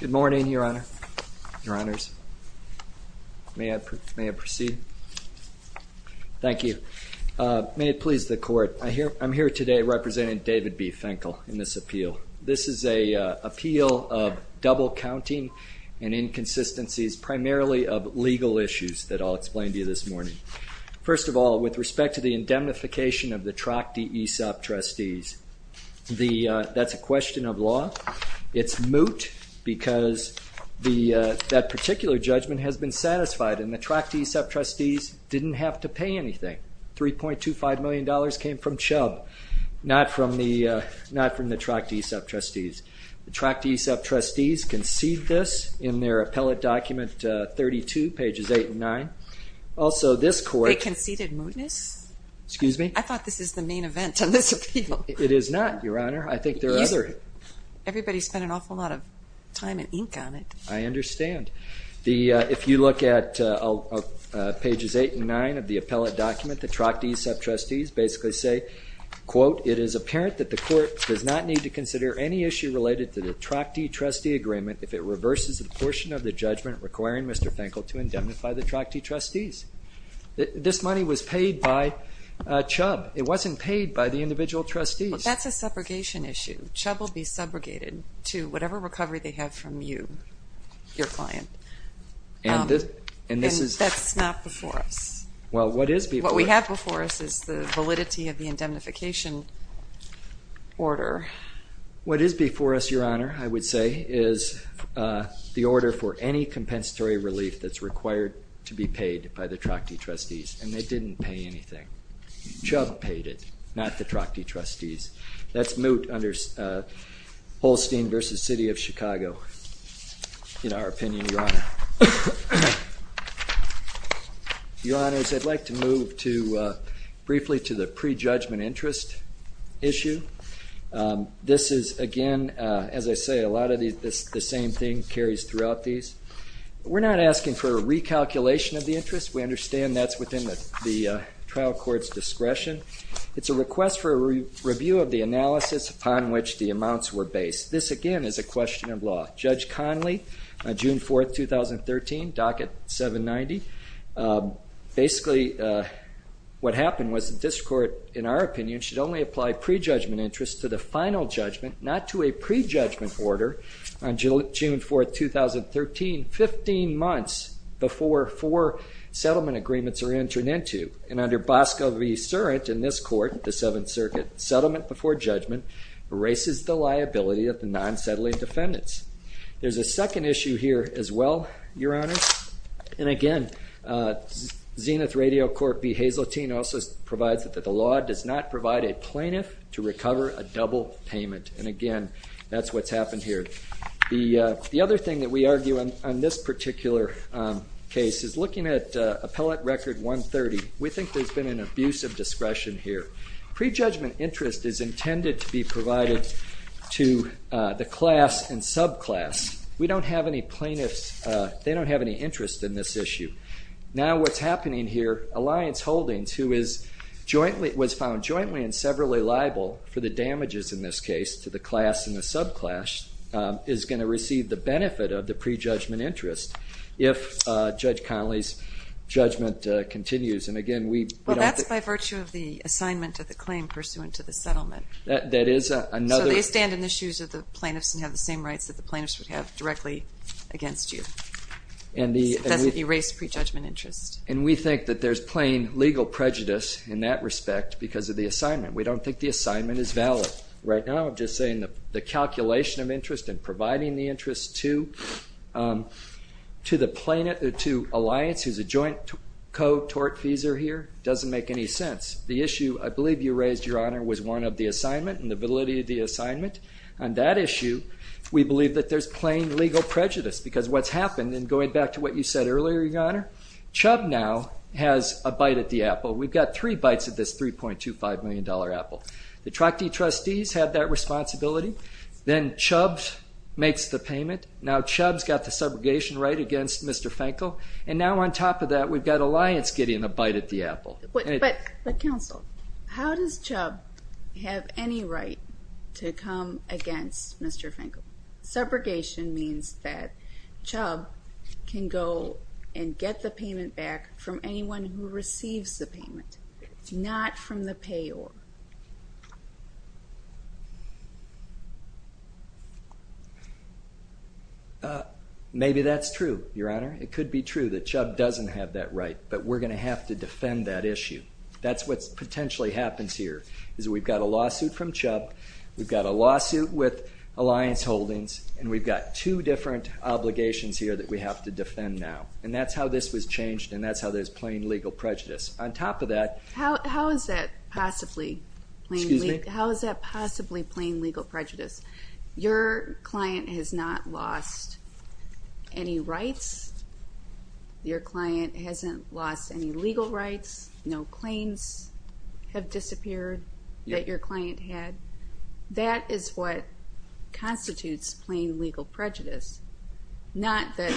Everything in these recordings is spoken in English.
Good morning, your honor, your honors. May I proceed? Thank you. May it please the court, I'm here today representing David B. Fenkell in this appeal. This is a appeal of double counting and inconsistencies primarily of legal issues that I'll explain to you this morning. First of all, with respect to the indemnification of the Trachty ESOP trustees, that's a question of moot, because that particular judgment has been satisfied and the Trachty ESOP trustees didn't have to pay anything. 3.25 million dollars came from Chubb, not from the Trachty ESOP trustees. The Trachty ESOP trustees conceded this in their appellate document 32 pages 8 and 9. Also this court- They conceded mootness? Excuse me? I thought this is the main event on this appeal. It is not, your honor. I think there are- Everybody spent an awful lot of time and ink on it. I understand. If you look at pages 8 and 9 of the appellate document, the Trachty ESOP trustees basically say, quote, it is apparent that the court does not need to consider any issue related to the Trachty trustee agreement if it reverses a portion of the judgment requiring Mr. Fenkell to indemnify the Trachty trustees. This money was paid by Chubb. It wasn't paid by the individual trustees. That's a separation issue. Chubb will be subrogated to whatever recovery they have from you, your client. And this is- That's not before us. Well, what is before- What we have before us is the validity of the indemnification order. What is before us, your honor, I would say is the order for any compensatory relief that's required to be paid by the Trachty trustees, and they didn't pay anything. Chubb paid it, not the Trachty trustees. That's moot under Holstein v. City of Chicago, in our opinion, your honor. Your honors, I'd like to move to briefly to the pre-judgment interest issue. This is, again, as I say, a lot of these- the same thing carries throughout these. We're not asking for a recalculation of the interest. We understand that's within the trial court's discretion. It's a request for a review of the analysis upon which the amounts were based. This, again, is a question of law. Judge Conley, on June 4th, 2013, docket 790. Basically, what happened was that this court, in our opinion, should only apply pre-judgment interest to the final judgment, not to a pre-judgment order. On June 4th, 2013, 15 months before four settlement agreements are entered into, and under Bosco v. Surratt, in this court, the Seventh Circuit, settlement before judgment erases the liability of the non-settling defendants. There's a second issue here as well, your honor, and again, Zenith Radio Court v. Hazeltine also provides that the law does not provide a plaintiff to recover a double payment, and again, that's what's happened here. The other thing that we argue on this particular case is looking at Appellate Record 130, we think there's been an abuse of discretion here. Pre-judgment interest is intended to be provided to the class and subclass. We don't have any plaintiffs- they don't have any interest in this issue. Now, what's happening here, Alliance Holdings, who was found jointly and severally liable for the damages in this case to the class and the subclass, is going to receive the benefit of the pre-judgment interest if Judge Connolly's judgment continues, and again, we don't- Well, that's by virtue of the assignment of the claim pursuant to the settlement. That is another- So they stand in the shoes of the plaintiffs and have the same rights that the plaintiffs would have directly against you. It doesn't erase pre-judgment interest. And we think that there's plain legal prejudice in that respect because of the assignment. We don't think the assignment is valid. Right now, I'm just saying the calculation of interest and providing the interest to Alliance, who's a joint co-tort feeser here, doesn't make any sense. The issue, I believe you raised, Your Honor, was one of the assignment and the validity of the assignment. On that issue, we believe that there's plain legal prejudice because what's happened, and going back to what you said earlier, Your Honor, Chubb now has a bite at the apple. We've got three bites at this $3.25 million apple. The Troctee trustees have that responsibility. Then Chubb makes the payment. Now Chubb's got the subrogation right against Mr. Fenkel, and now on top of that, we've got Alliance getting a bite at the apple. But counsel, how does Chubb have any right to come against Mr. Fenkel? Subrogation means that Chubb can go and get the payment back from anyone who receives the payment, not from the payor. Maybe that's true, Your Honor. It could be true that Chubb doesn't have that right, but we're going to have to defend that issue. That's what potentially happens here, is we've got a lawsuit from Chubb, we've got a lawsuit with Alliance Holdings, and we've got two different obligations here that we have to defend now. That's how this was changed, and that's how there's plain legal prejudice. On top of that- How is that possibly plain legal prejudice? Your client has not lost any rights? Your client had. That is what constitutes plain legal prejudice. Not that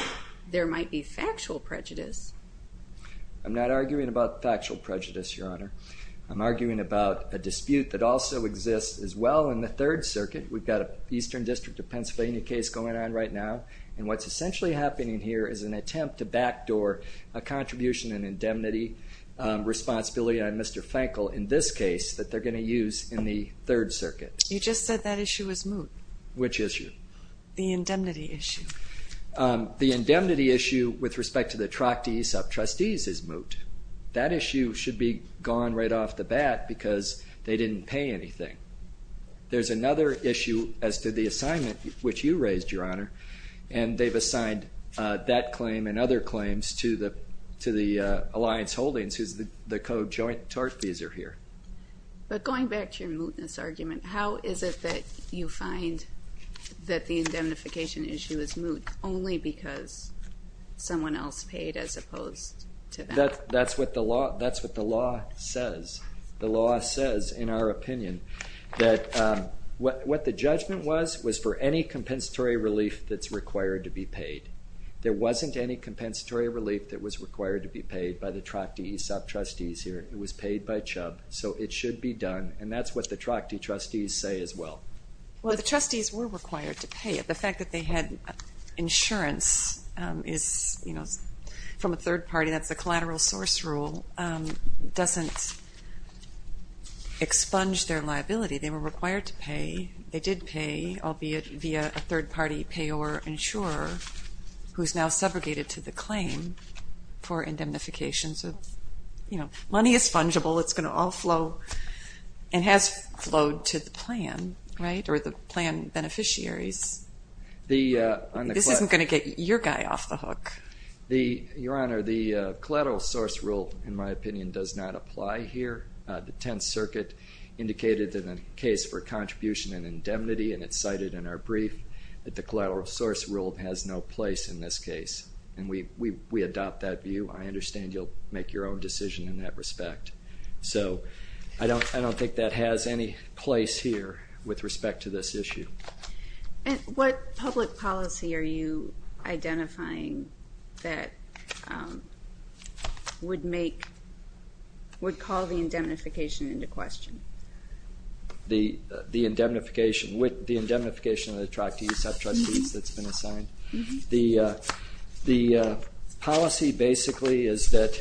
there might be factual prejudice. I'm not arguing about factual prejudice, Your Honor. I'm arguing about a dispute that also exists as well in the Third Circuit. We've got an Eastern District of Pennsylvania case going on right now, and what's essentially happening here is an attempt to backdoor a contribution and indemnity responsibility on Mr. Fenkel in this case that they're going to use in the Third Circuit. You just said that issue is moot. Which issue? The indemnity issue. The indemnity issue with respect to the Trachtee sub-trustees is moot. That issue should be gone right off the bat because they didn't pay anything. There's another issue as to the assignment which you raised, Your Honor, and they've assigned that claim and other claims to the Alliance Holdings, who's the co-joint tort fees are here. But going back to your mootness argument, how is it that you find that the indemnification issue is moot only because someone else paid as opposed to them? That's what the law says. The law says, in our opinion, that what the judgment was was for any compensatory relief that's required to be paid. There wasn't any compensatory relief that was required to be paid by the Trachtee sub-trustees here. It was paid by Chubb, so it should be done. And that's what the Trachtee trustees say as well. Well, the trustees were required to pay it. The fact that they had insurance is, you know, from a third party, that's a collateral source rule, doesn't expunge their liability. They were required to pay. They did pay, albeit via a third-party payor insurer who's now subrogated to the claim for indemnification. So, you know, money is fungible. It's going to all flow and has flowed to the plan, right, or the plan beneficiaries. This isn't going to get your guy off the hook. Your Honor, the collateral source rule, in my opinion, does not apply here. The Tenth Circuit indicated in a case for contribution and indemnity, and it's cited in our brief that the collateral source rule has no place in this case, and we adopt that view. I understand you'll make your own decision in that respect. So I don't think that has any place here with respect to this issue. What public policy are you identifying that would make, would call the indemnification into question? The indemnification, the indemnification of the tractee, the sub-trustees that's been assigned. The policy basically is that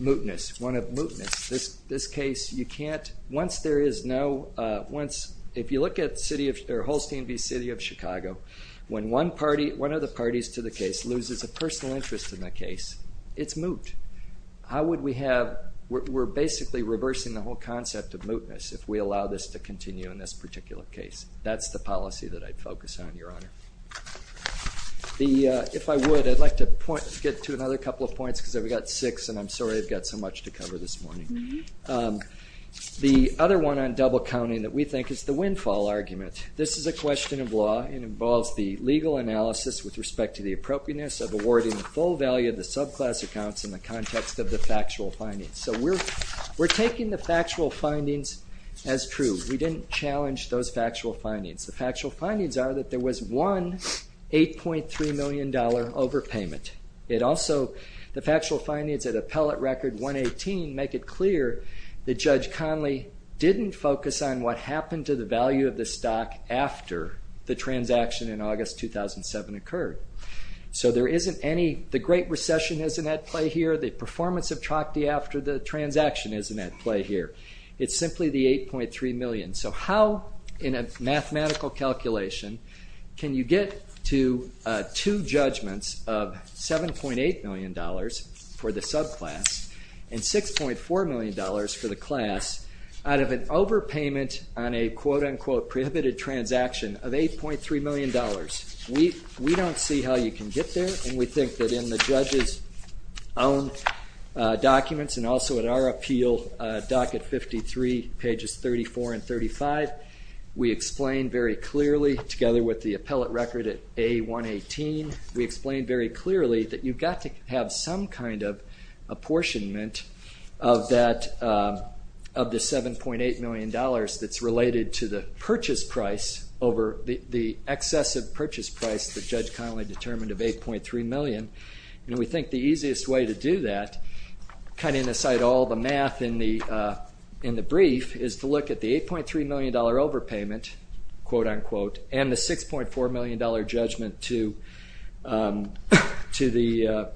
mootness, one of mootness. This case, you can't, once there is no, once, if you look at city of, or Holstein v. City of Chicago, when one party, one of the parties to the case loses a personal interest in the case, it's moot. How would we have, we're basically reversing the whole concept of mootness if we allow this to continue in this particular case. That's the policy that I'd focus on, Your Honor. If I would, I'd like to point, get to another couple of points, because I've got six, and I'm sorry I've got so much to cover this morning. The other one on double counting that we think is the windfall argument. This is a question of law. It involves the legal analysis with respect to the appropriateness of awarding the full value of the subclass accounts in the context of the factual findings. So we're taking the factual findings as true. We didn't challenge those factual findings. The factual findings are that there was one $8.3 million overpayment. It also, the factual findings at appellate record 118 make it clear that Judge Conley didn't focus on what happened to the value of the stock after the transaction in August 2007 occurred. So there isn't any, the Great Recession isn't at play here, the performance of Chokde after the transaction isn't at play here. It's simply the $8.3 million. So how, in a mathematical calculation, can you get to two judgments of $7.8 million for the subclass and $6.4 million for the class out of an overpayment on a quote unquote prohibited transaction of $8.3 million? We don't see how you can get there and we think that in the judge's own documents and also at our appeal, docket 53, pages 34 and 35, we explain very clearly, together with the appellate record at A118, we explain very clearly that you've got to have some kind of apportionment of that, of the $7.8 million that's related to the purchase price over the excessive purchase price that Judge Conley determined of $8.3 million and we think the easiest way to do that, cutting aside all the math in the brief, is to look at the $8.3 million overpayment, quote unquote, and the $6.4 million judgment to the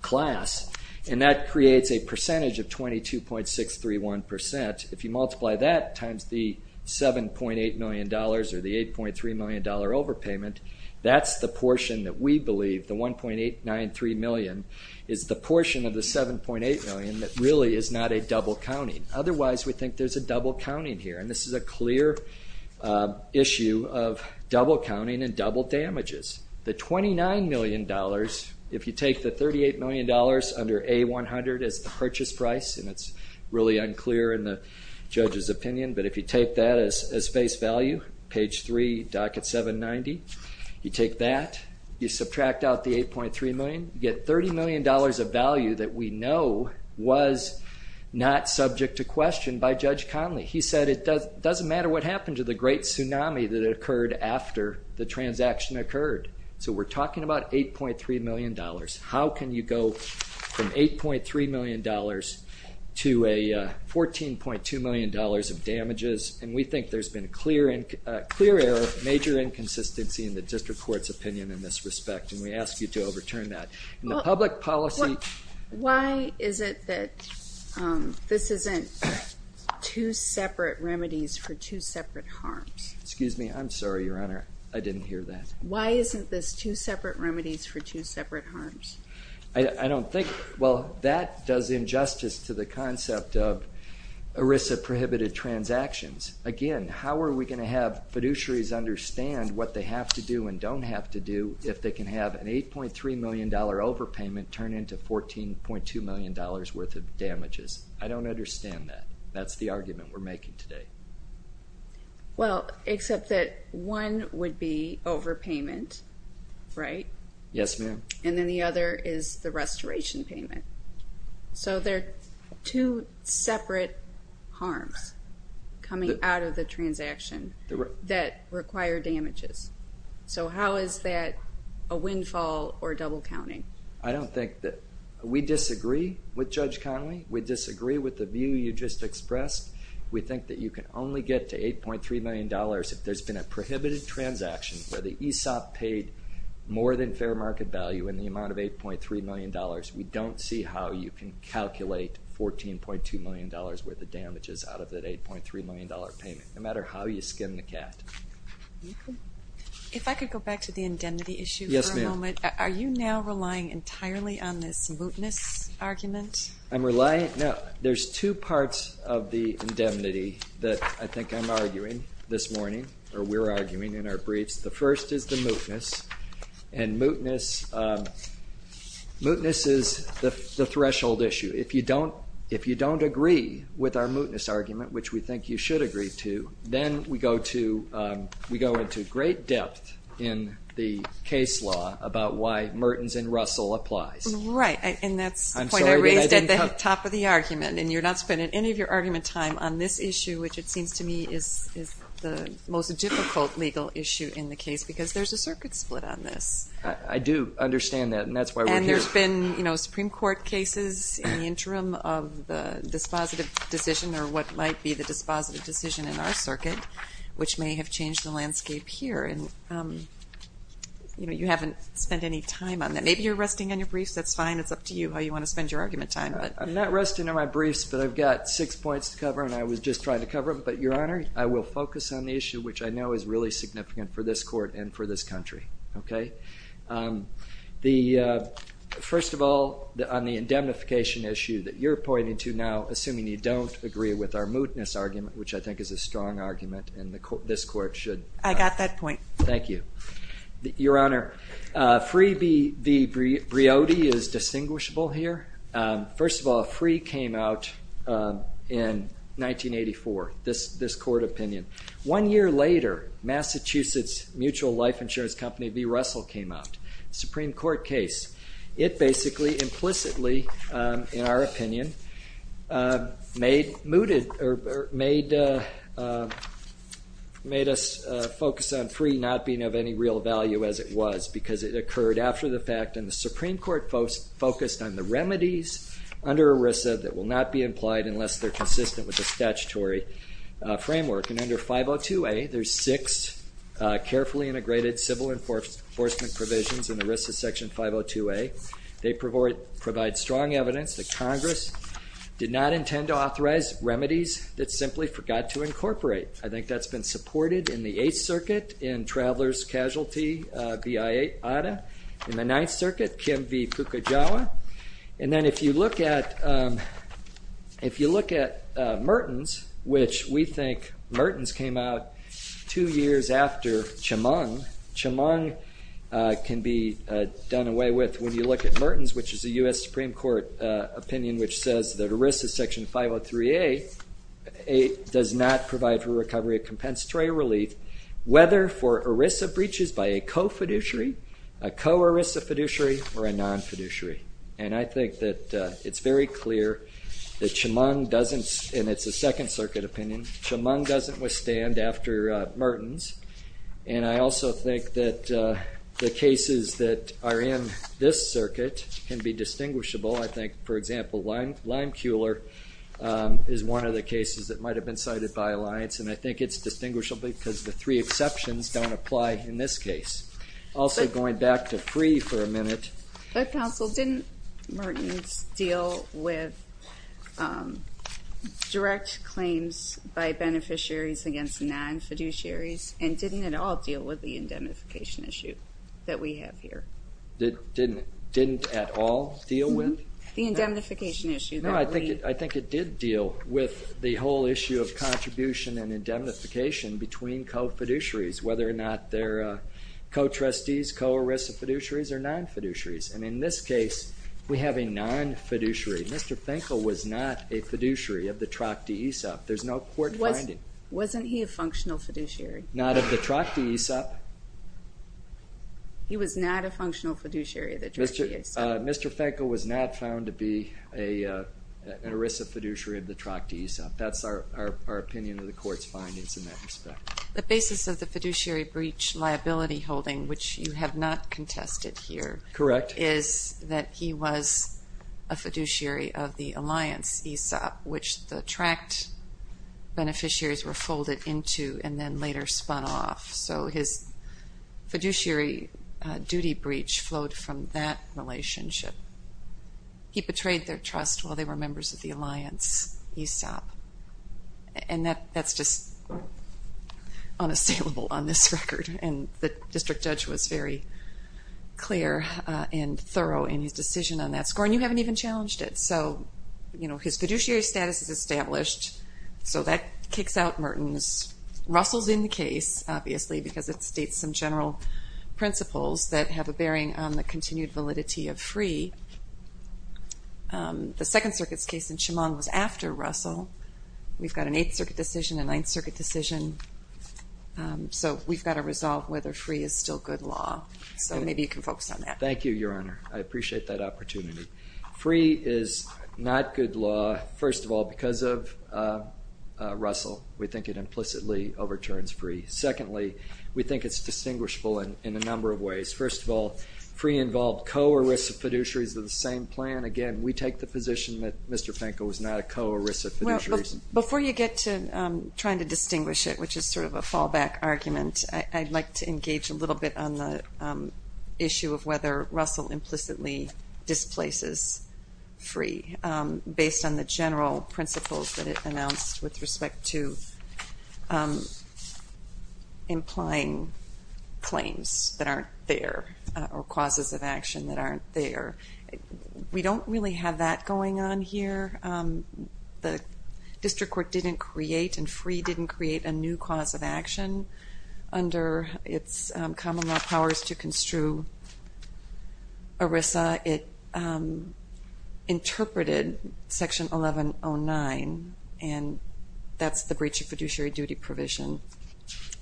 class and that creates a percentage of 22.631 percent. If you multiply that times the $7.8 million or the $8.3 million overpayment, that's the portion that we believe, the 1.893 million, is the portion of the $7.8 million that really is not a double counting. Otherwise, we think there's a double counting here and this is a clear issue of double counting and double damages. The $29 million, if you take the $38 million under A100 as the purchase price, and it's really unclear in the judge's opinion, but if you take that as face value, page 3, docket 790, you take that, you subtract out the $8.3 million, you get $30 million of value that we know was not subject to question by Judge Conley. He said it doesn't matter what happened to the great tsunami that occurred after the transaction occurred. So we're talking about $8.3 million. How can you go from $8.3 million to a $14.2 million of damages and we think there's been a clear error, major inconsistency in the district court's opinion in this respect and we ask you to overturn that. In the public policy- Why is it that this isn't two separate remedies for two separate harms? Excuse me, I'm sorry, Your Honor, I didn't hear that. Why isn't this two separate remedies for two separate harms? I don't think, well, that does injustice to the concept of ERISA prohibited transactions. Again, how are we going to have fiduciaries understand what they have to do and don't have to do if they can have an $8.3 million overpayment turn into $14.2 million worth of damages? I don't understand that. That's the argument we're making. Except that one would be overpayment, right? Yes, ma'am. And then the other is the restoration payment. So they're two separate harms coming out of the transaction that require damages. So how is that a windfall or double counting? I don't think that, we disagree with Judge Connolly. We disagree with the view you just expressed. We think that you can only get to $8.3 million if there's been a prohibited transaction where the ESOP paid more than fair market value in the amount of $8.3 million. We don't see how you can calculate $14.2 million worth of damages out of that $8.3 million payment, no matter how you skim the cast. If I could go back to the indemnity issue for a moment. Yes, ma'am. Are you now relying entirely on this mootness argument? I'm relying, no, there's two parts of the indemnity that I think I'm arguing this morning, or we're arguing in our briefs. The first is the mootness, and mootness is the threshold issue. If you don't agree with our mootness argument, which we think you should agree to, then we go into great depth in the case law about why Mertens and Russell applies. Right, and that's the point I raised at the top of the argument, and you're not spending any of your argument time on this issue, which it seems to me is the most difficult legal issue in the case, because there's a circuit split on this. I do understand that, and that's why we're here. And there's been Supreme Court cases in the interim of the dispositive decision, or what might be the dispositive decision in our circuit, which may have changed the landscape here. You haven't spent any time on that. Maybe you're resting on your briefs. That's fine. It's up to you how you want to spend your argument time. I'm not resting on my briefs, but I've got six points to cover, and I was just trying to cover them. But, Your Honor, I will focus on the issue, which I know is really significant for this Court and for this country. Okay? First of all, on the indemnification issue that you're pointing to now, assuming you don't agree with our mootness argument, which I think is a strong argument, and this Court should. I got that point. Thank you. Your Honor, Free v. Briotti is distinguishable here. First of all, Free came out in 1984, this Court opinion. One year later, Massachusetts Mutual Life Insurance Company v. Russell came out, Supreme Court case. It basically, implicitly, in our opinion, made us focus on Free not being of any real value as it was, because it occurred after the fact, and the Supreme Court focused on the remedies under ERISA that will not be implied unless they're consistent with the statutory framework. And under 502A, there's six carefully integrated civil enforcement provisions in ERISA section 502A. They provide strong evidence that Congress did not intend to authorize remedies that simply forgot to incorporate. I think that's been supported in the Eighth Circuit in Traveler's Casualty v. Ada. In the Ninth Circuit, Kim v. Pukajawa. And then if you look at Mertens, which we think Mertens came out two years after Chemung. Chemung can be done away with when you look at Mertens, which is a U.S. Supreme Court opinion which says that ERISA section 503A does not provide for recovery of compensatory relief, whether for ERISA breaches by a co-fiduciary, a co-ERISA fiduciary, or a non-fiduciary. And I think that it's very clear that Chemung doesn't, and it's a Second Circuit opinion, Chemung doesn't withstand after Mertens. And I also think that the cases that are in this circuit can be distinguishable. I think, for example, Limekeuler is one of the cases that might have been cited by Alliance, and I think it's distinguishable because the three exceptions don't apply in this case. Also, going back to free for a minute. But counsel, didn't Mertens deal with direct claims by beneficiaries against non-fiduciaries, and didn't at all deal with the indemnification issue that we have here? Didn't at all deal with? The indemnification issue. No, I think it did deal with the whole issue of contribution and indemnification between co-fiduciaries, whether or not they're co-trustees, co-ERISA fiduciaries, or non-fiduciaries. And in this case, we have a non-fiduciary. Mr. Fenkel was not a fiduciary of the Tracte Aesop. There's no court finding. Wasn't he a functional fiduciary? Not of the Tracte Aesop. He was not a functional fiduciary of the Tracte Aesop. Mr. Fenkel was not found to be an ERISA fiduciary of the Tracte Aesop. That's our opinion of the court's findings in that respect. The basis of the fiduciary breach liability holding, which you have not contested here, is that he was a fiduciary of the Alliance Aesop, which the Tracte beneficiaries were folded into and then later spun off. So his fiduciary duty breach flowed from that relationship. He betrayed their trust while they were members of the district judge was very clear and thorough in his decision on that score, and you haven't even challenged it. So his fiduciary status is established, so that kicks out Mertens. Russell's in the case, obviously, because it states some general principles that have a bearing on the continued validity of free. The Second Circuit's case in Chemung was after Russell. We've got an Eighth Circuit decision, a Ninth Circuit decision, so we've got to resolve whether free is still good law. So maybe you can focus on that. Thank you, Your Honor. I appreciate that opportunity. Free is not good law, first of all, because of Russell. We think it implicitly overturns free. Secondly, we think it's distinguishable in a number of ways. First of all, free involved co-ERISA fiduciaries of the same plan. Again, we take the position that Mr. Finkel was not a co-ERISA fiduciary. Before you get to trying to distinguish it, which is sort of a little bit on the issue of whether Russell implicitly displaces free, based on the general principles that it announced with respect to implying claims that aren't there, or causes of action that aren't there. We don't really have that going on here. The District Court didn't create, and free didn't create, a new cause of action under its common law powers to construe ERISA. It interpreted Section 1109, and that's the breach of fiduciary duty provision,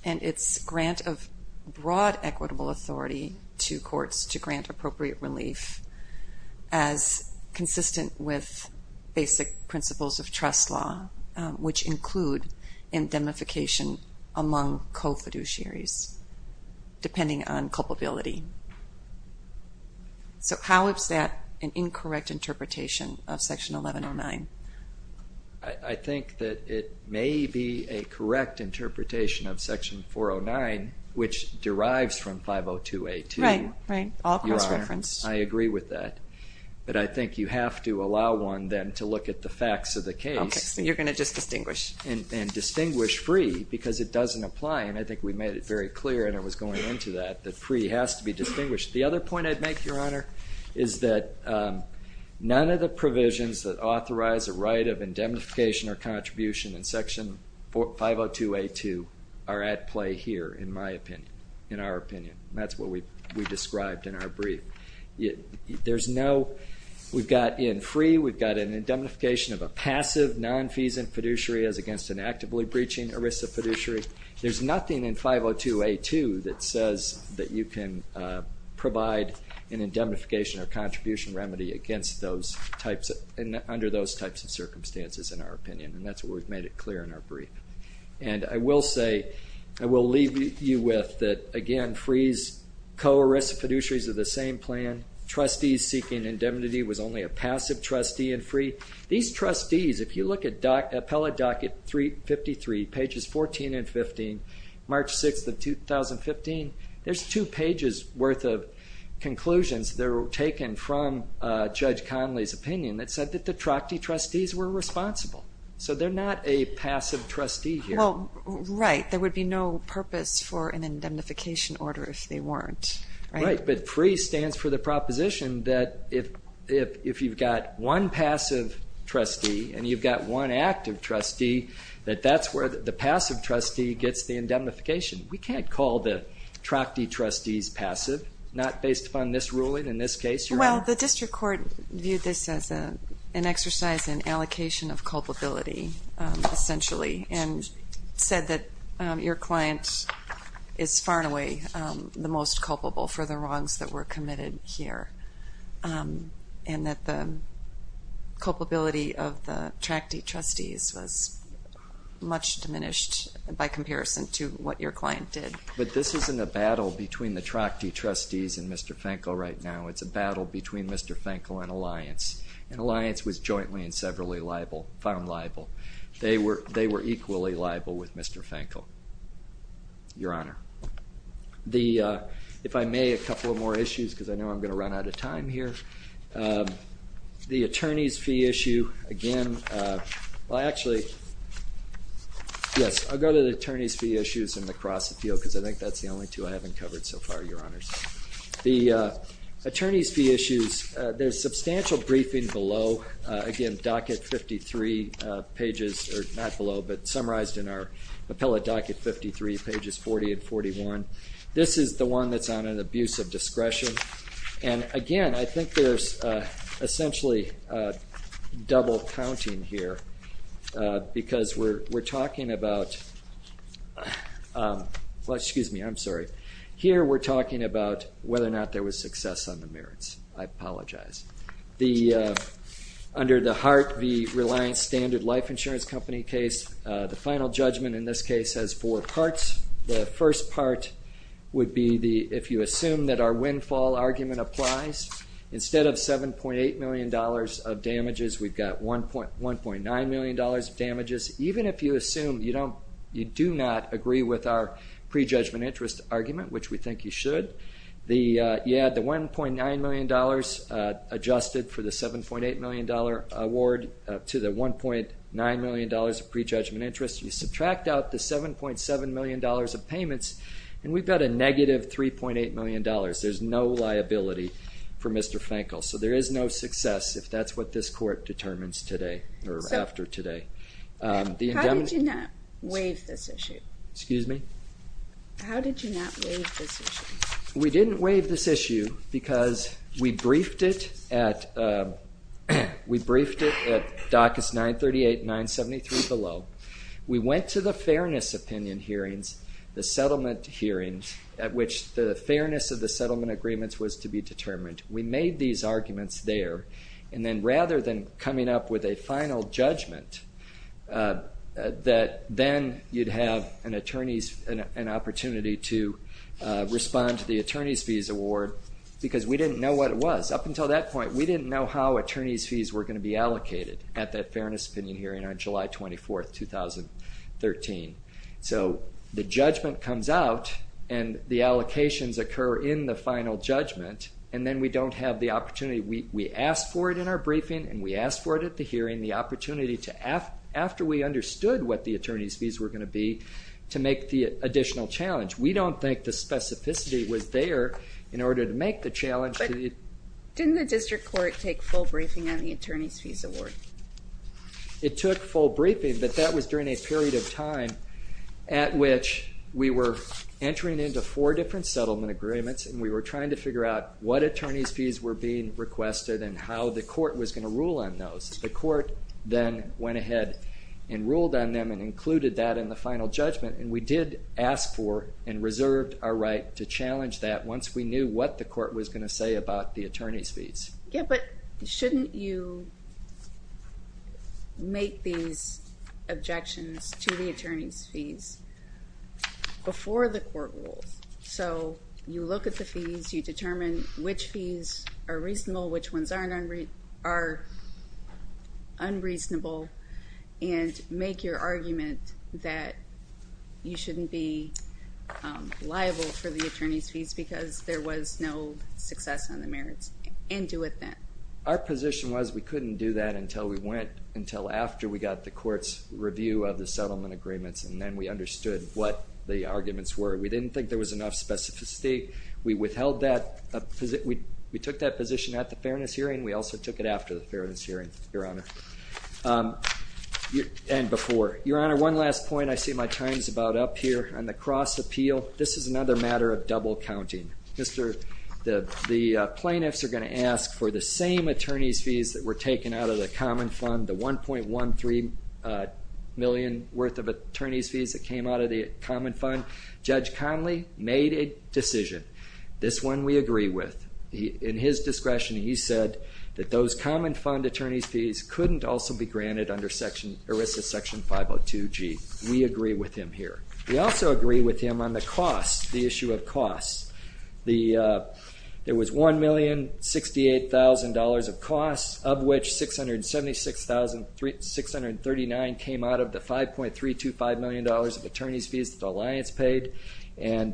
and its grant of broad equitable authority to courts to grant appropriate relief as consistent with basic principles of trust law, which include indemnification among co-fiduciaries, depending on culpability. So how is that an incorrect interpretation of Section 1109? I think that it may be a correct interpretation of Section 409, which But I think you have to allow one, then, to look at the facts of the case. Okay, so you're going to just distinguish. And distinguish free, because it doesn't apply, and I think we made it very clear, and I was going into that, that free has to be distinguished. The other point I'd make, Your Honor, is that none of the provisions that authorize a right of indemnification or contribution in Section 502A2 are at play here, in my opinion, in what we described in our brief. There's no, we've got in free, we've got an indemnification of a passive non-feasant fiduciary as against an actively breaching ERISA fiduciary. There's nothing in 502A2 that says that you can provide an indemnification or contribution remedy against those types, under those types of circumstances, in our opinion, and that's what we've made it clear in our brief. And I will say, I will leave you with that, again, that free's co-ERISA fiduciaries are the same plan. Trustees seeking indemnity was only a passive trustee in free. These trustees, if you look at appellate docket 353, pages 14 and 15, March 6th of 2015, there's two pages worth of conclusions that were taken from Judge Conley's opinion that said that the Trachty trustees were responsible. So they're not a passive trustee here. Well, right, there would be no purpose for an indemnification order if they weren't. Right, but free stands for the proposition that if you've got one passive trustee and you've got one active trustee, that that's where the passive trustee gets the indemnification. We can't call the Trachty trustees passive, not based upon this ruling in this case. Well, the district court viewed this as an exercise in allocation of the most culpable for the wrongs that were committed here. And that the culpability of the Trachty trustees was much diminished by comparison to what your client did. But this isn't a battle between the Trachty trustees and Mr. Fenkel right now. It's a battle between Mr. Fenkel and Alliance. And Alliance was jointly and severally liable, found liable. They were equally liable with Mr. Fenkel, Your Honor. The, if I may, a couple of more issues because I know I'm going to run out of time here. The attorney's fee issue, again, well actually, yes, I'll go to the attorney's fee issues in the CrossFit field because I think that's the only two I haven't covered so far, Your Honors. The attorney's fee issues, there's substantial briefing below. Again, docket 53 pages, or not below, but summarized in our appellate docket 53, pages 40 and 41. This is the one that's on an abuse of discretion. And again, I think there's essentially double counting here because we're talking about, well, excuse me, I'm sorry. Here we're talking about whether or not there was success on the merits. I apologize. The, under the Hart v. Reliance Standard Life Insurance Company case, the final judgment in this case has four parts. The first part would be the, if you assume that our windfall argument applies, instead of $7.8 million of damages, we've got $1.9 million of damages. Even if you assume you don't, you do not agree with our prejudgment interest argument, which we think you should. The, you add the $1.9 million adjusted for the $7.8 million award to the $1.9 million of prejudgment interest. You subtract out the $7.7 million of payments, and we've got a negative $3.8 million. There's no liability for Mr. Fankel. So there is no success if that's what this court determines today, or How did you not waive this issue? We didn't waive this issue because we briefed it at, we briefed it at DACA's 938 and 973 below. We went to the fairness opinion hearings, the settlement hearings, at which the fairness of the settlement agreements was to be determined. We made these arguments there, and then rather than coming up with a final judgment, that then you'd have an attorney's, an opportunity to respond to the attorney's fees award, because we didn't know what it was. Up until that point, we didn't know how attorney's fees were going to be allocated at that fairness opinion hearing on July 24th, 2013. So the judgment comes out, and the allocations occur in the final judgment, and then we don't have the opportunity, we asked for it in our briefing, and we asked for it at the hearing, the opportunity to, after we understood what the attorney's fees were going to be, to make the additional challenge. We don't think the specificity was there in order to make the challenge. But didn't the district court take full briefing on the attorney's fees award? It took full briefing, but that was during a period of time at which we were entering into four different settlement agreements, and we were trying to figure out what attorney's fees were being ahead and ruled on them and included that in the final judgment, and we did ask for and reserved our right to challenge that once we knew what the court was going to say about the attorney's fees. Yeah, but shouldn't you make these objections to the attorney's fees before the court rules? So you look at the fees, you determine which fees are reasonable, which ones are unreasonable, and make your argument that you shouldn't be liable for the attorney's fees because there was no success on the merits, and do it then. Our position was we couldn't do that until we went, until after we got the court's review of the settlement agreements, and then we understood what the arguments were. We didn't think there was enough specificity. We took that position at the fairness hearing. We also took it after the fairness hearing, Your Honor, and before. Your Honor, one last point. I see my time's about up here on the cross appeal. This is another matter of double counting. The plaintiffs are going to ask for the same attorney's fees that were taken out of the common fund, the 1.13 million worth of attorney's fees that came out of the common fund. Judge Conley made a decision. This one we agree with. In his discretion, he said that those common fund attorney's fees couldn't also be granted under section, ERISA section 502G. We agree with him here. We also agree with him on the cost, the issue of costs. There was $1,068,000 of costs, of which $676,639 came out of the $5.325 million of attorney's fees that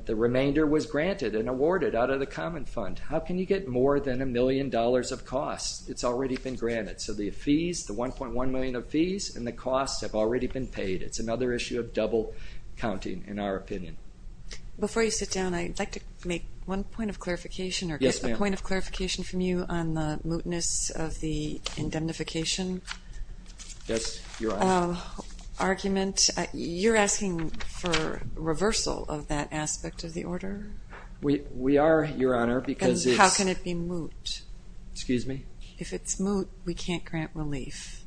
the remainder was granted and awarded out of the common fund. How can you get more than a million dollars of costs? It's already been granted. So the fees, the 1.1 million of fees and the costs have already been paid. It's another issue of double counting, in our opinion. Before you sit down, I'd like to make one point of clarification or a point of clarification from you on the mootness of the indemnification argument. You're asking for reversal of that aspect of the order? We are, Your Honor. And how can it be moot? If it's moot, we can't grant relief.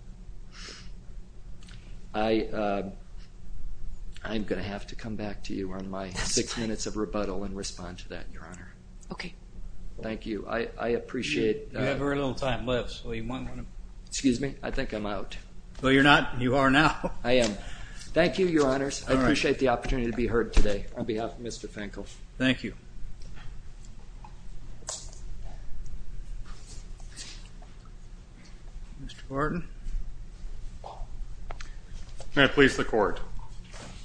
I'm going to have to come back to you on my six minutes of rebuttal and respond to that, Your Honor. Okay. Thank you. I appreciate... You have very little time left. Excuse me? I think I'm out. No, you're not. You are now. I am. Thank you, Your Honors. I appreciate the opportunity to be heard today on behalf of Mr. Finkel. Thank you. Mr. Barton? May it please the Court.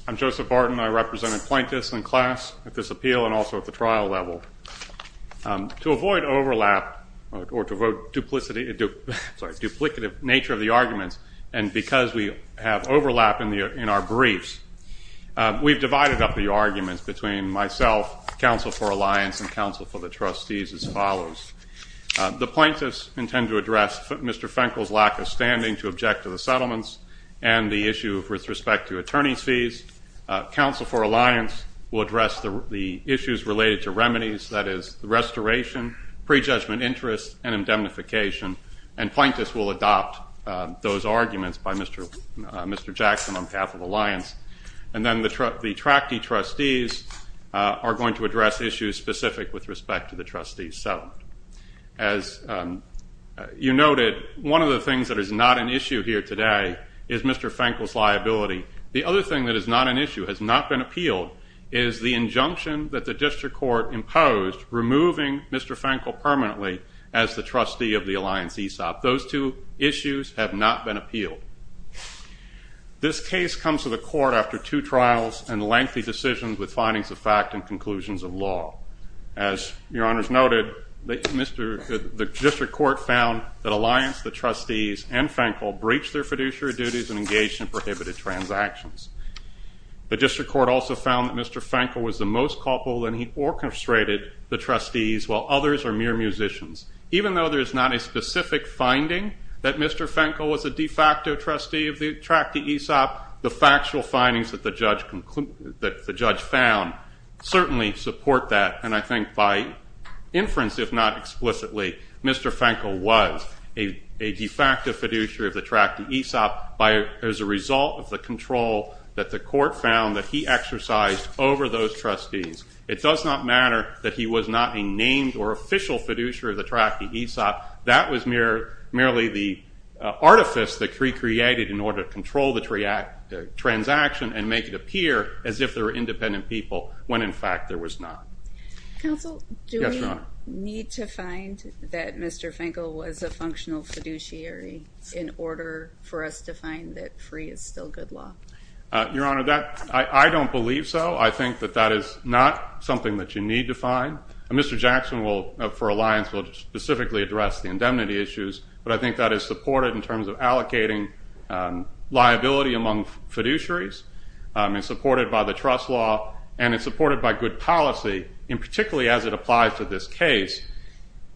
I'm Joseph Barton. I represent the plaintiffs in class at this appeal and also at the trial level. To avoid overlap or to avoid duplicity... Sorry, duplicative nature of the arguments, and because we have overlap in our briefs, we've divided up the arguments between myself, counsel for Alliance, and counsel for the trustees as follows. The plaintiffs intend to address Mr. Finkel's lack of standing to object to the settlements and the issue with respect to attorney's fees. Counsel for Alliance will address the issues related to remedies, that is, the restoration, prejudgment interest, and indemnification, and plaintiffs will adopt those arguments by Mr. Jackson on behalf of Alliance. And then the tractee trustees are going to address issues specific with respect to the trustees' settlement. As you noted, one of the things that is not an issue here today is Mr. Finkel's liability. The other thing that is not an issue, has not been appealed, is the injunction that the district court imposed removing Mr. Finkel permanently as the trustee of the Alliance ESOP. Those two issues have not been appealed. This case comes to the court after two trials and lengthy decisions with findings of fact and conclusions of law. As your honors noted, the district court found that Alliance, the trustees, and Finkel breached their fiduciary duties and engaged in prohibited transactions. The district court also found that Mr. Finkel was the most culpable, and he orchestrated the trustees, while others are mere musicians. Even though there is not a specific finding that Mr. Finkel was a de facto trustee of the tractee ESOP, the factual findings that the judge found certainly support that, and I think by inference, if not explicitly, Mr. Finkel was a de facto fiduciary of the tractee ESOP as a result of the control that the court found that he exercised over those trustees. It does not matter that he was not a named or official fiduciary of the tractee ESOP. That was merely the artifice that he created in order to control the transaction and make it appear as if there were independent people, when in fact there was not. Counsel, do we need to find that Mr. Finkel was a functional fiduciary in order for us to find that free is still good law? Your honor, I don't believe so. I think that that is not something that you need to find. Mr. Jackson, for Alliance, will specifically address the indemnity issues, but I think that is supported in terms of allocating liability among fiduciaries. It's supported by the trust law, and it's supported by good policy, and particularly as it applies to this case.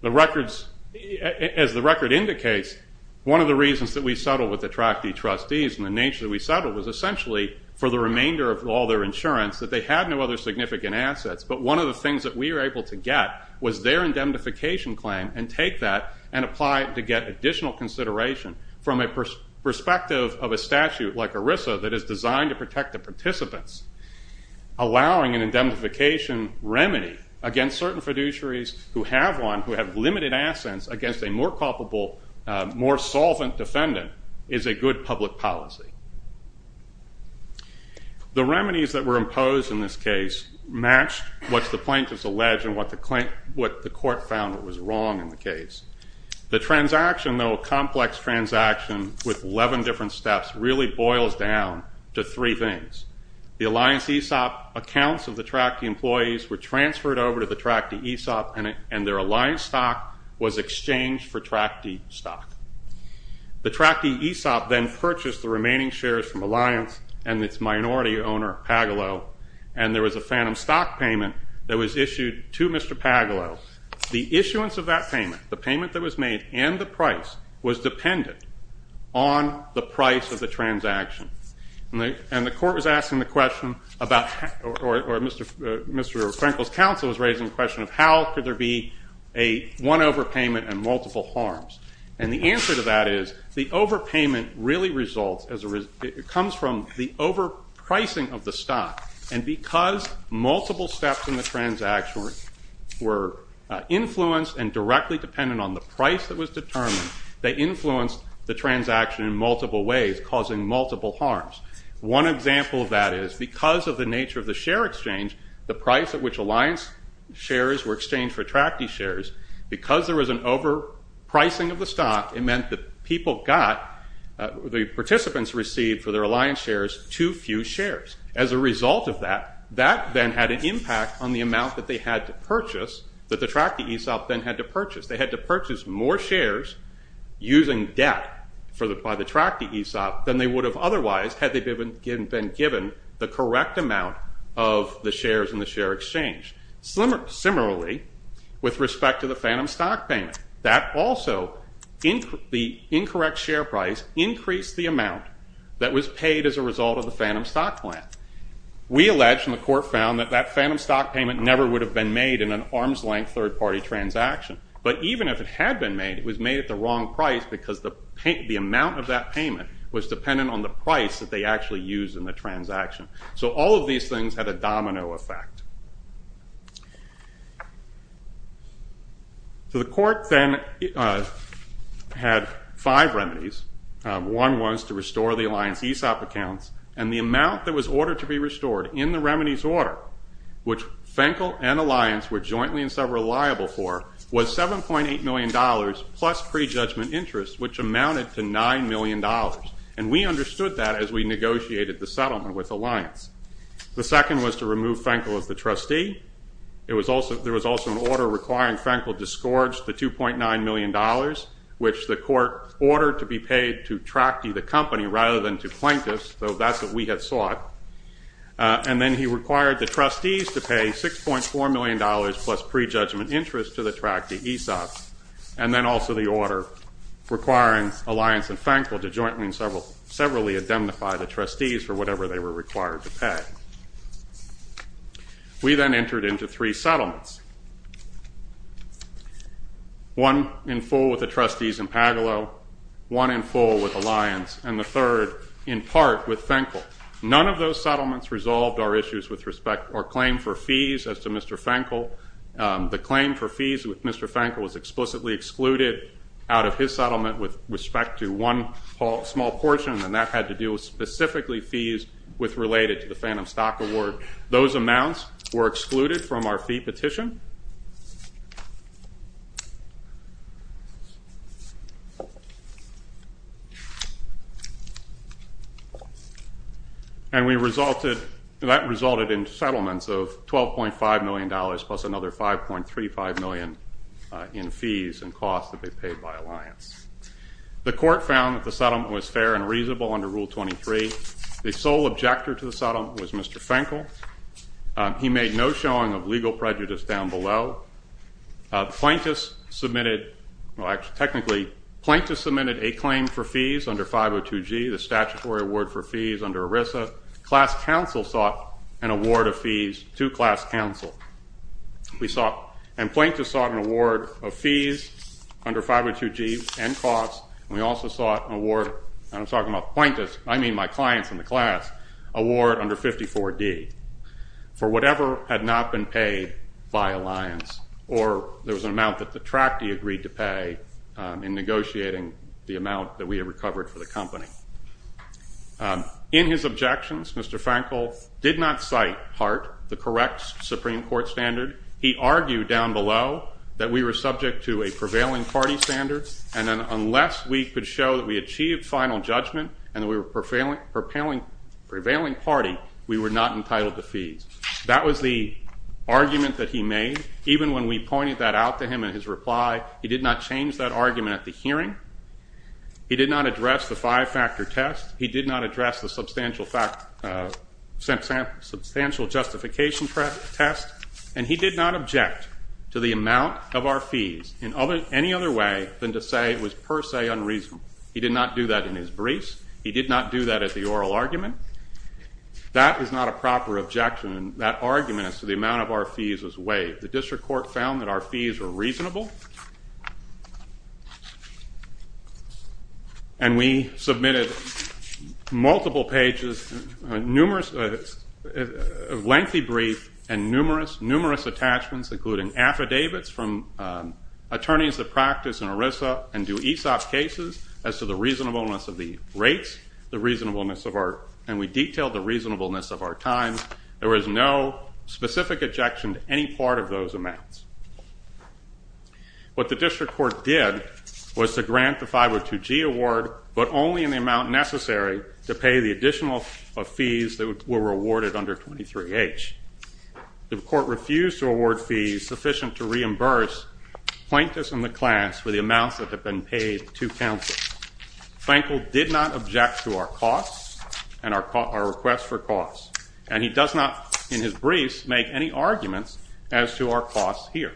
As the record indicates, one of the reasons that we settled with the tractee trustees and the nature that we settled was essentially for the remainder of all their insurance, that they had no other significant assets, but one of the things that we were able to get was their indemnification claim and take that and apply it to get additional consideration from a perspective of a statute like ERISA that is designed to protect the participants. Allowing an indemnification remedy against certain fiduciaries who have one, who have limited assets against a more culpable, more solvent defendant, is a good public policy. The remedies that were imposed in this case matched what the plaintiffs alleged and what the court found was wrong in the case. The transaction, though a complex transaction with 11 different steps, really boils down to three things. The Alliance ESOP accounts of the tractee employees were transferred over to the tractee ESOP, and their Alliance stock was exchanged for tractee stock. The tractee ESOP then purchased the remaining shares from Alliance and its minority owner, Pagalo, and there was a phantom stock payment that was issued to Mr. Pagalo. The issuance of that payment, the payment that was made and the price, was dependent on the price of the transaction. And the court was asking the question, or Mr. Frenkel's counsel was raising the question of how could there be one overpayment and multiple harms. And the answer to that is the overpayment really results, it comes from the overpricing of the stock, and because multiple steps in the transaction were influenced and directly dependent on the price that was determined, they influenced the transaction in multiple ways, causing multiple harms. One example of that is because of the nature of the share exchange, the price at which Alliance shares were exchanged for tractee shares, because there was an overpricing of the stock, it meant that people got, the participants received for their Alliance shares, too few shares. As a result of that, that then had an impact on the amount that they had to purchase, that the tractee ESOP then had to purchase. They had to purchase more shares using debt by the tractee ESOP than they would have otherwise had they been given the correct amount of the shares in the share exchange. Similarly, with respect to the phantom stock payment, that also, the incorrect share price increased the amount that was paid as a result of the phantom stock plan. We allege, and the court found, that that phantom stock payment never would have been made in an arms-length third-party transaction. But even if it had been made, it was made at the wrong price because the amount of that payment was dependent on the price that they actually used in the transaction. So all of these things had a domino effect. The court then had five remedies. One was to restore the Alliance ESOP accounts, and the amount that was ordered to be restored in the remedies order, which Fenkel and Alliance were jointly and several liable for, was $7.8 million plus prejudgment interest, which amounted to $9 million. And we understood that as we negotiated the settlement with Alliance. The second was to remove Fenkel as the trustee. There was also an order requiring Fenkel to scourge the $2.9 million, which the court ordered to be paid to Tractee, the company, rather than to plaintiffs, though that's what we had sought. And then he required the trustees to pay $6.4 million plus prejudgment interest to the Tractee ESOP. And then also the order requiring Alliance and Fenkel to jointly and severally indemnify the trustees for whatever they were required to pay. We then entered into three settlements. One in full with the trustees in Pagalo, one in full with Alliance, and the third in part with Fenkel. None of those settlements resolved our claim for fees as to Mr. Fenkel. The claim for fees with Mr. Fenkel was explicitly excluded out of his settlement with respect to one small portion, and that had to do with specifically fees related to the Phantom Stock Award. Those amounts were excluded from our fee petition. And that resulted in settlements of $12.5 million plus another $5.35 million in fees and costs that they paid by Alliance. The court found that the settlement was fair and reasonable under Rule 23. The sole objector to the settlement was Mr. Fenkel. He made no showing of legal prejudice down below. Plaintiffs submitted, well actually technically, plaintiffs submitted a claim for fees under 502G, the statutory award for fees under ERISA. Class counsel sought an award of fees to class counsel. And plaintiffs sought an award of fees under 502G and costs, and we also sought an award, and I'm talking about plaintiffs, I mean my clients in the class, an award under 504D for whatever had not been paid by Alliance, or there was an amount that the tractee agreed to pay in negotiating the amount that we had recovered for the company. In his objections, Mr. Fenkel did not cite part the correct Supreme Court standard. He argued down below that we were subject to a prevailing party standard, and that unless we could show that we achieved final judgment and that we were a prevailing party, we were not entitled to fees. That was the argument that he made. Even when we pointed that out to him in his reply, he did not change that argument at the hearing. He did not address the five-factor test. He did not address the substantial justification test. And he did not object to the amount of our fees in any other way than to say it was per se unreasonable. He did not do that in his briefs. He did not do that at the oral argument. That is not a proper objection. That argument as to the amount of our fees was waived. The district court found that our fees were reasonable, and we submitted multiple pages of lengthy briefs and numerous attachments, including affidavits from attorneys that practice in ERISA and do ESOP cases, as to the reasonableness of the rates, and we detailed the reasonableness of our times. There was no specific objection to any part of those amounts. What the district court did was to grant the 502G award, but only in the amount necessary to pay the additional fees that were awarded under 23H. The court refused to award fees sufficient to reimburse plaintiffs in the class for the amounts that had been paid to counsel. Fenkel did not object to our costs and our request for costs, and he does not, in his briefs, make any arguments as to our costs here.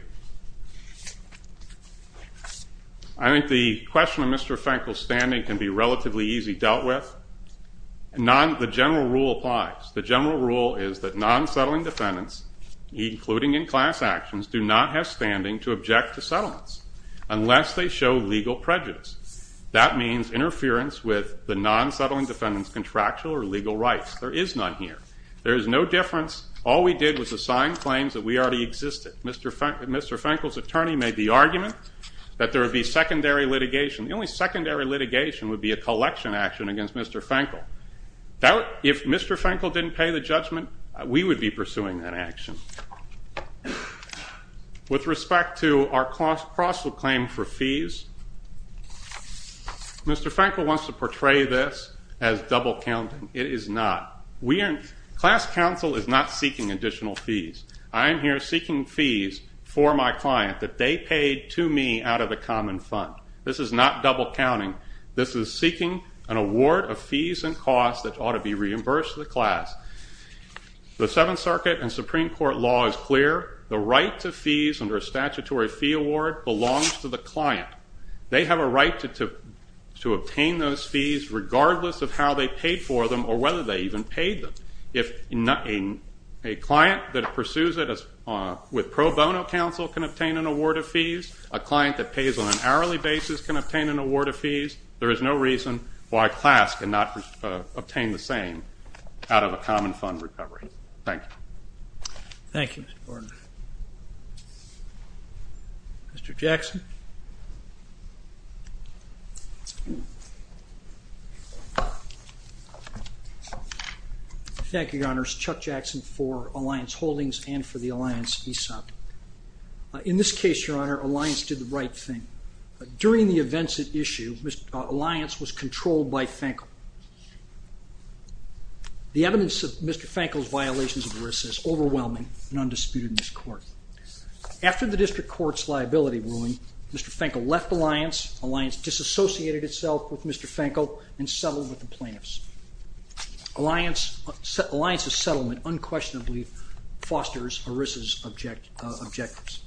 I think the question of Mr. Fenkel's standing can be relatively easy dealt with. The general rule applies. The general rule is that non-settling defendants, including in class actions, do not have standing to object to settlements unless they show legal prejudice. That means interference with the non-settling defendant's contractual or legal rights. There is none here. There is no difference. All we did was assign claims that we already existed. Mr. Fenkel's attorney made the argument that there would be secondary litigation. The only secondary litigation would be a collection action against Mr. Fenkel. If Mr. Fenkel didn't pay the judgment, we would be pursuing that action. With respect to our cost of claim for fees, Mr. Fenkel wants to portray this as double counting. It is not. Class counsel is not seeking additional fees. I am here seeking fees for my client that they paid to me out of the common fund. This is not double counting. This is seeking an award of fees and costs that ought to be reimbursed to the class. The Seventh Circuit and Supreme Court law is clear. The right to fees under a statutory fee award belongs to the client. They have a right to obtain those fees regardless of how they paid for them or whether they even paid them. If a client that pursues it with pro bono counsel can obtain an award of fees, a client that pays on an hourly basis can obtain an award of fees, there is no reason why class cannot obtain the same out of a common fund recovery. Thank you. Thank you, Mr. Borden. Mr. Jackson. Thank you, Your Honors. Chuck Jackson for Alliance Holdings and for the Alliance PSOP. In this case, Your Honor, Alliance did the right thing. During the events at issue, Alliance was controlled by Fankel. The evidence of Mr. Fankel's violations of ERISA is overwhelming and undisputed in this court. After the district court's liability ruling, Mr. Fankel left Alliance. Alliance disassociated itself with Mr. Fankel and settled with the plaintiffs. Alliance's settlement unquestionably fosters ERISA's objectives.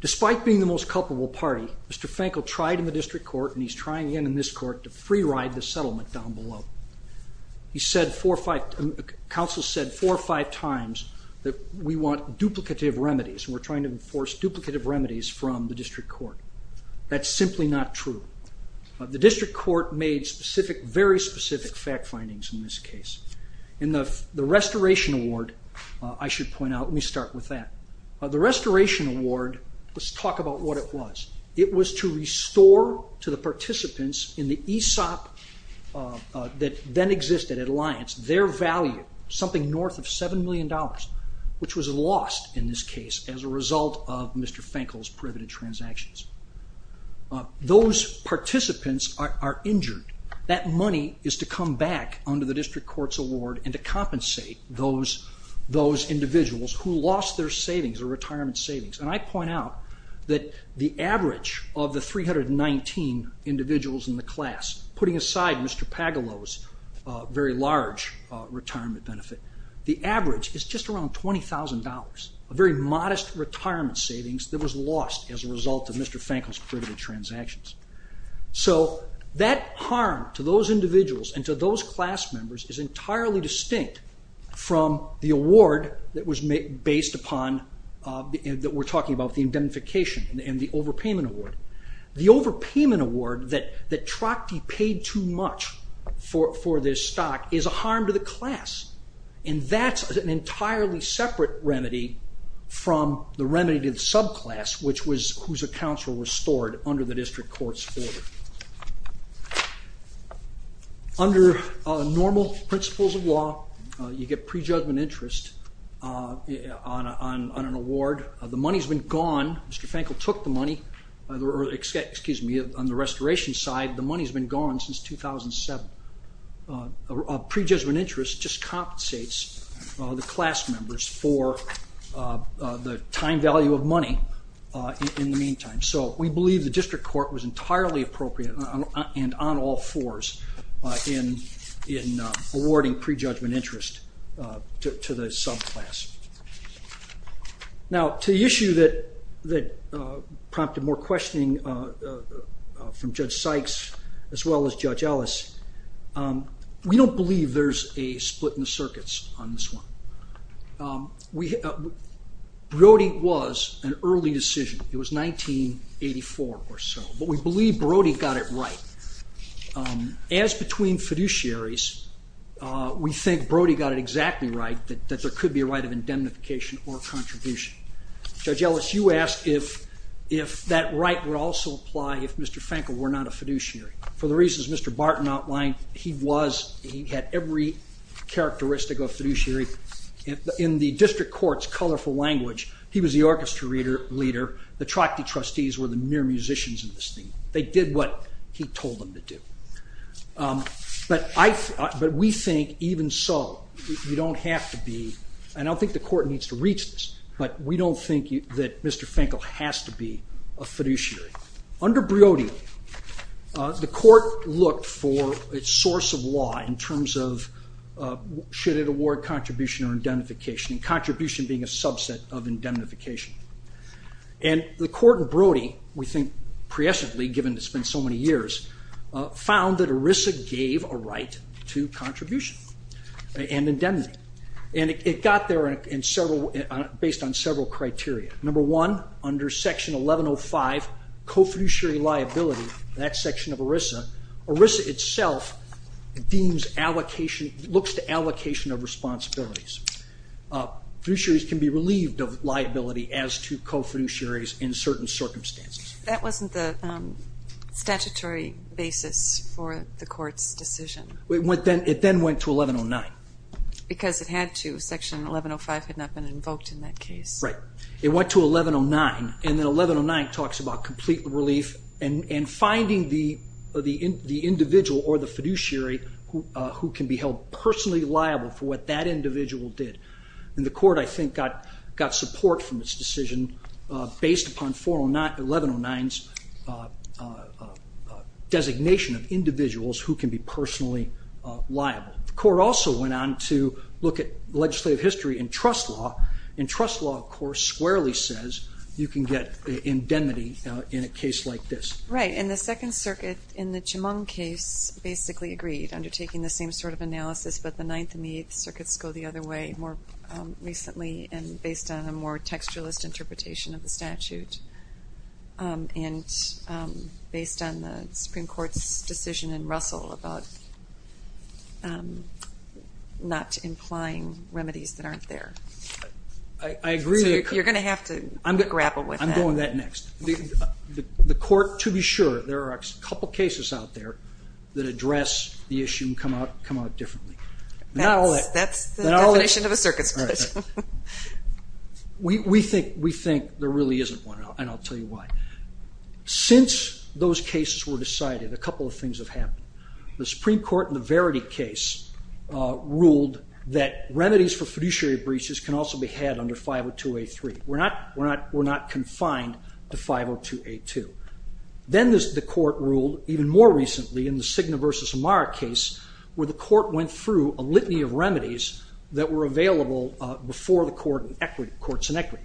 Despite being the most culpable party, Mr. Fankel tried in the district court and he's trying again in this court to free ride the settlement down below. He said four or five, counsel said four or five times that we want duplicative remedies and we're trying to enforce duplicative remedies from the district court. That's simply not true. The district court made specific, very specific fact findings in this case. In the restoration award, I should point out, let me start with that. The restoration award, let's talk about what it was. It was to restore to the participants in the ESOP that then existed at Alliance, their value, something north of $7 million, which was lost in this case as a result of Mr. Fankel's privative transactions. Those participants are injured. That money is to come back under the district court's award and to compensate those individuals who lost their savings or retirement savings. And I point out that the average of the 319 individuals in the class, putting aside Mr. Pagelow's very large retirement benefit, the average is just around $20,000, a very modest retirement savings that was lost as a result of Mr. Fankel's privative transactions. So that harm to those individuals and to those class members is entirely distinct from the award that was based upon, that we're talking about, the indemnification and the overpayment award. The overpayment award that Trocty paid too much for this stock is a harm to the class, and that's an entirely separate remedy from the remedy to the subclass, whose accounts were restored under the district court's order. Under normal principles of law, you get prejudgment interest on an award. The money's been gone. Mr. Fankel took the money. Excuse me, on the restoration side, the money's been gone since 2007. Prejudgment interest just compensates the class members for the time value of money in the meantime. So we believe the district court was entirely appropriate and on all fours in awarding prejudgment interest to the subclass. Now, to the issue that prompted more questioning from Judge Sykes as well as Judge Ellis, we don't believe there's a split in the circuits on this one. Brody was an early decision. It was 1984 or so, but we believe Brody got it right. As between fiduciaries, we think Brody got it exactly right, that there could be a right of indemnification or contribution. Judge Ellis, you asked if that right would also apply if Mr. Fankel were not a fiduciary. For the reasons Mr. Barton outlined, he was. He had every characteristic of a fiduciary. In the district court's colorful language, he was the orchestra leader. The Trachty trustees were the mere musicians in this thing. They did what he told them to do. But we think even so, you don't have to be, and I don't think the court needs to reach this, but we don't think that Mr. Fankel has to be a fiduciary. Under Brody, the court looked for its source of law in terms of should it award contribution or indemnification, and contribution being a subset of indemnification. The court in Brody, we think pre-essentially, given it's been so many years, found that ERISA gave a right to contribution and indemnity. It got there based on several criteria. Number one, under section 1105, co-fiduciary liability, that's section of ERISA. ERISA itself looks to allocation of responsibilities. Fiduciaries can be relieved of liability as to co-fiduciaries in certain circumstances. That wasn't the statutory basis for the court's decision. It then went to 1109. Because it had to. Section 1105 had not been invoked in that case. Right. It went to 1109, and then 1109 talks about complete relief and finding the individual or the fiduciary who can be held personally liable for what that individual did. And the court, I think, got support from its decision based upon 1109's designation of individuals who can be personally liable. The court also went on to look at legislative history and trust law. And trust law, of course, squarely says you can get indemnity in a case like this. Right. And the Second Circuit in the Chemung case basically agreed, undertaking the same sort of analysis, but the Ninth and Eighth Circuits go the other way more recently and based on a more textualist interpretation of the statute and based on the Supreme Court's decision in Russell about not implying remedies that aren't there. I agree. So you're going to have to grapple with that. I'm going to that next. The court, to be sure, there are a couple cases out there that address the issue and come out differently. That's the definition of a circuit split. We think there really isn't one, and I'll tell you why. Since those cases were decided, a couple of things have happened. The Supreme Court in the Verity case ruled that remedies for fiduciary breaches can also be had under 502A3. We're not confined to 502A2. Then the court ruled even more recently in the Cigna v. Amara case where the court went through a litany of remedies that were available before the courts in equity.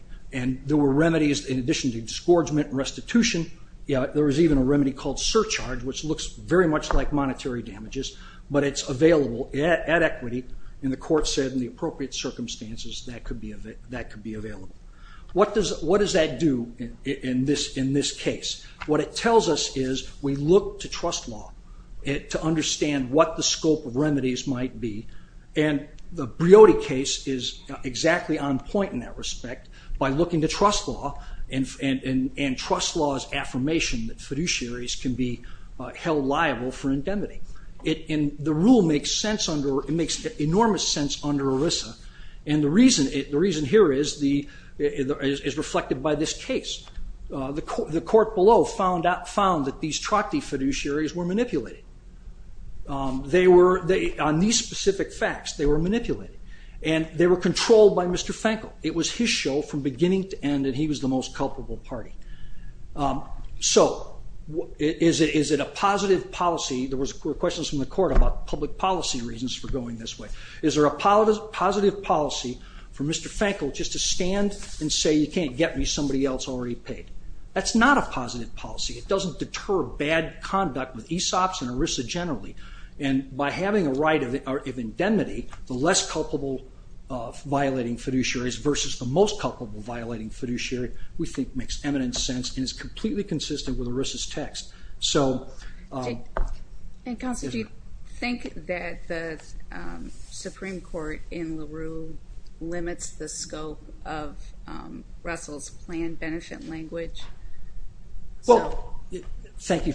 There were remedies in addition to disgorgement and restitution. There was even a remedy called surcharge, which looks very much like monetary damages, but it's available at equity. The court said in the appropriate circumstances that could be available. What does that do in this case? What it tells us is we look to trust law to understand what the scope of remedies might be. The Briody case is exactly on point in that respect by looking to trust law and trust law's affirmation that fiduciaries can be held liable for indemnity. The rule makes enormous sense under ERISA, and the reason here is reflected by this case. The court below found that these Trachty fiduciaries were manipulated. On these specific facts, they were manipulated, and they were controlled by Mr. Fankel. It was his show from beginning to end, and he was the most culpable party. So is it a positive policy? There were questions from the court about public policy reasons for going this way. Is there a positive policy for Mr. Fankel just to stand and say you can't get me somebody else already paid? That's not a positive policy. It doesn't deter bad conduct with ESOPs and ERISA generally, and by having a right of indemnity, the less culpable violating fiduciaries versus the most culpable violating fiduciary we think makes eminent sense and is completely consistent with ERISA's text. Counsel, do you think that the Supreme Court in LaRue limits the scope of Russell's planned benefit language? Well, thank you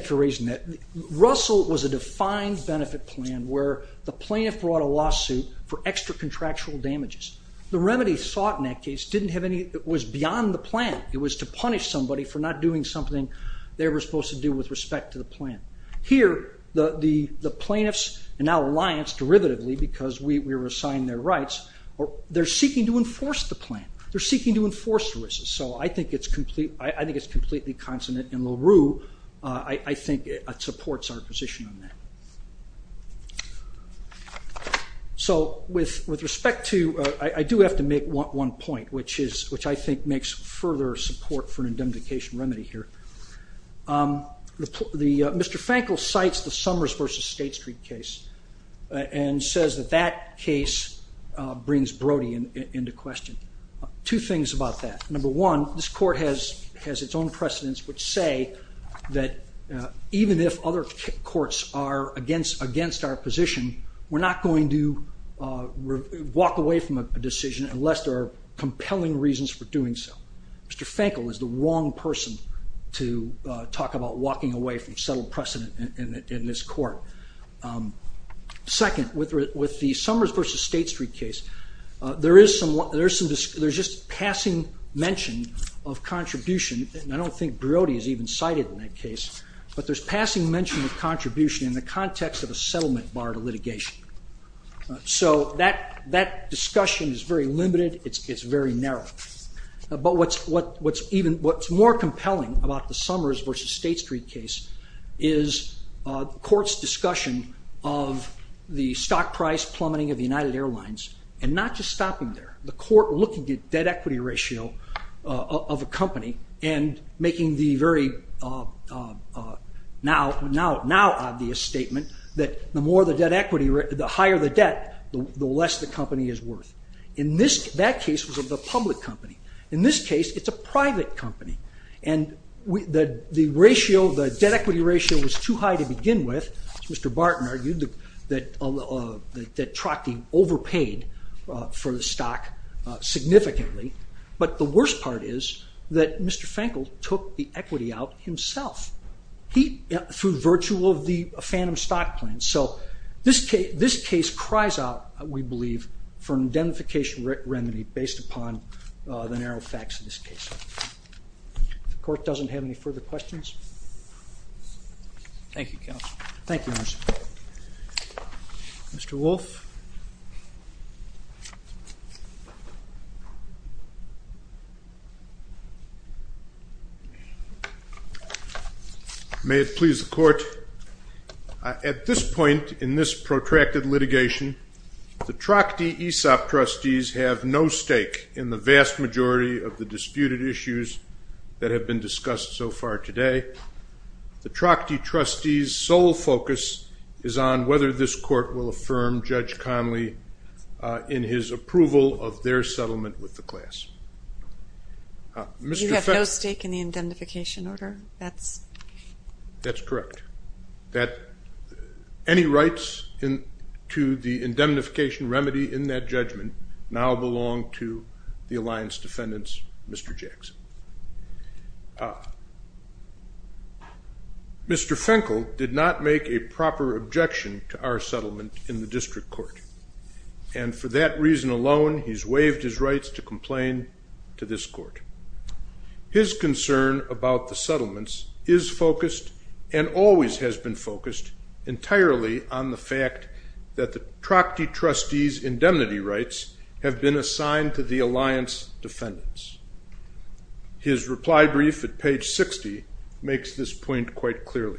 for raising that. Russell was a defined benefit plan where the plaintiff brought a lawsuit for extra-contractual damages. The remedy sought in that case didn't have any... It was beyond the plan. It was to punish somebody for not doing something they were supposed to do with respect to the plan. Here, the plaintiffs and our alliance, derivatively because we were assigned their rights, they're seeking to enforce the plan. They're seeking to enforce ERISA. So I think it's completely consonant, and LaRue, I think, supports our position on that. So with respect to... I do have to make one point, which I think makes further support for an indemnification remedy here. Mr. Fankel cites the Summers v. State Street case and says that that case brings Brody into question. Two things about that. Number one, this court has its own precedents which say that even if other courts are against our position, we're not going to walk away from a decision unless there are compelling reasons for doing so. Mr. Fankel is the wrong person to talk about walking away from settled precedent in this court. Second, with the Summers v. State Street case, there's just passing mention of contribution, and I don't think Brody is even cited in that case, but there's passing mention of contribution in the context of a settlement bar to litigation. So that discussion is very limited, it's very narrow. But what's more compelling about the Summers v. State Street case is the court's discussion of the stock price plummeting of the United Airlines and not just stopping there. The court looking at debt-equity ratio of a company and making the very now obvious statement that the higher the debt, the less the company is worth. In that case, it was a public company. In this case, it's a private company. And the debt-equity ratio was too high to begin with. Mr. Barton argued that Trotty overpaid for the stock significantly, but the worst part is that Mr. Fankel took the equity out himself through virtue of the phantom stock plan. So this case cries out, we believe, for an indemnification remedy based upon the narrow facts of this case. The court doesn't have any further questions? Thank you, counsel. Thank you, counsel. Mr. Wolff? May it please the court, at this point in this protracted litigation, the Trotty ESOP trustees have no stake in the vast majority of the disputed issues that have been discussed so far today. The Trotty trustees' sole focus is on whether this court will affirm Judge Conley in his approval of their settlement with the class. You have no stake in the indemnification order? That's correct. Any rights to the indemnification remedy in that judgment now belong to the alliance defendants, Mr. Jackson. Mr. Fankel did not make a proper objection to our settlement in the district court, and for that reason alone, he's waived his rights to complain to this court. His concern about the settlements is focused and always has been focused entirely on the fact that the Trotty trustees' indemnity rights have been assigned to the alliance defendants. His reply brief at page 60 makes this point quite clearly.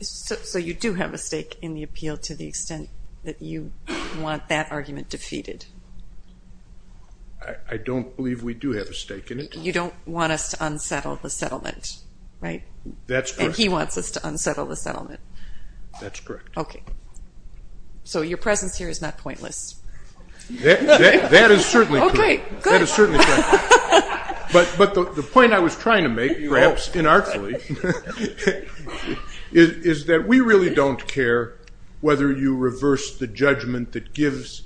So you do have a stake in the appeal to the extent that you want that argument defeated? I don't believe we do have a stake in it. You don't want us to unsettle the settlement, right? That's correct. And he wants us to unsettle the settlement. That's correct. So your presence here is not pointless. That is certainly correct. But the point I was trying to make, perhaps inartfully, is that we really don't care whether you reverse the judgment that gives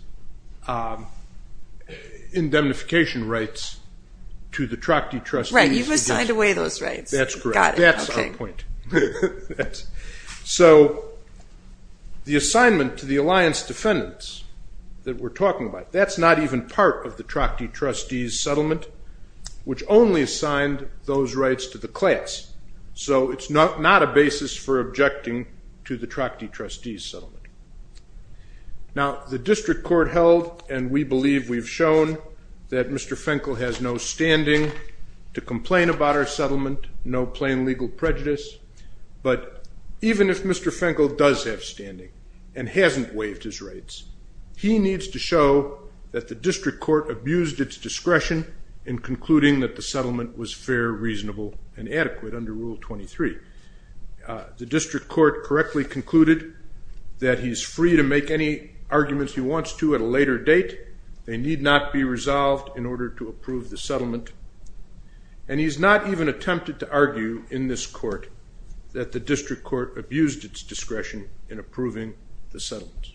indemnification rights to the Trotty trustees. Right, you've assigned away those rights. That's our point. So the assignment to the alliance defendants that we're talking about, that's not even part of the Trotty trustees' settlement, which only assigned those rights to the class. So it's not a basis for objecting to the Trotty trustees' settlement. Now, the district court held, and we believe we've shown, that Mr. Finkel has no standing to complain about our settlement, no plain legal prejudice. But even if Mr. Finkel does have standing and hasn't waived his rights, he needs to show that the district court abused its discretion in concluding that the settlement was fair, reasonable, and adequate under Rule 23. The district court correctly concluded that he's free to make any arguments he wants to at a later date. They need not be resolved in order to approve the settlement. And he's not even attempted to argue in this court that the district court abused its discretion in approving the settlement.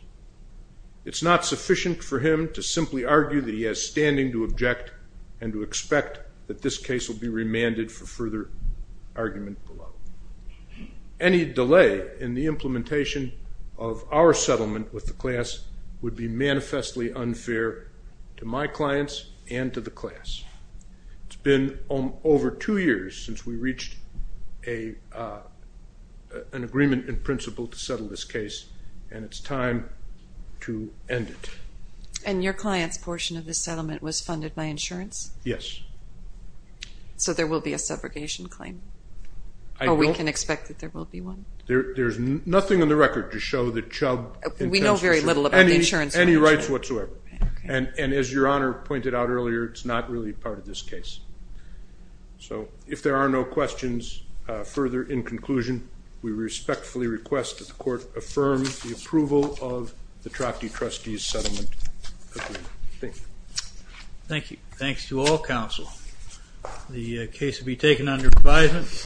It's not sufficient for him to simply argue that he has standing to object and to expect that this case will be remanded for further argument below. Any delay in the implementation of our settlement with the class would be manifestly unfair to my clients and to the class. It's been over two years since we reached an agreement in principle to settle this case, and it's time to end it. And your client's portion of the settlement was funded by insurance? Yes. So there will be a segregation claim? Or we can expect that there will be one? There's nothing on the record to show that Chubb... We know very little about the insurance... ...any rights whatsoever. And as Your Honor pointed out earlier, it's not really part of this case. So if there are no questions, further in conclusion, we respectfully request that the court affirm the approval of the Trachty Trustees Settlement Agreement. Thank you. Thank you. Thanks to all counsel. The case will be taken under advisement.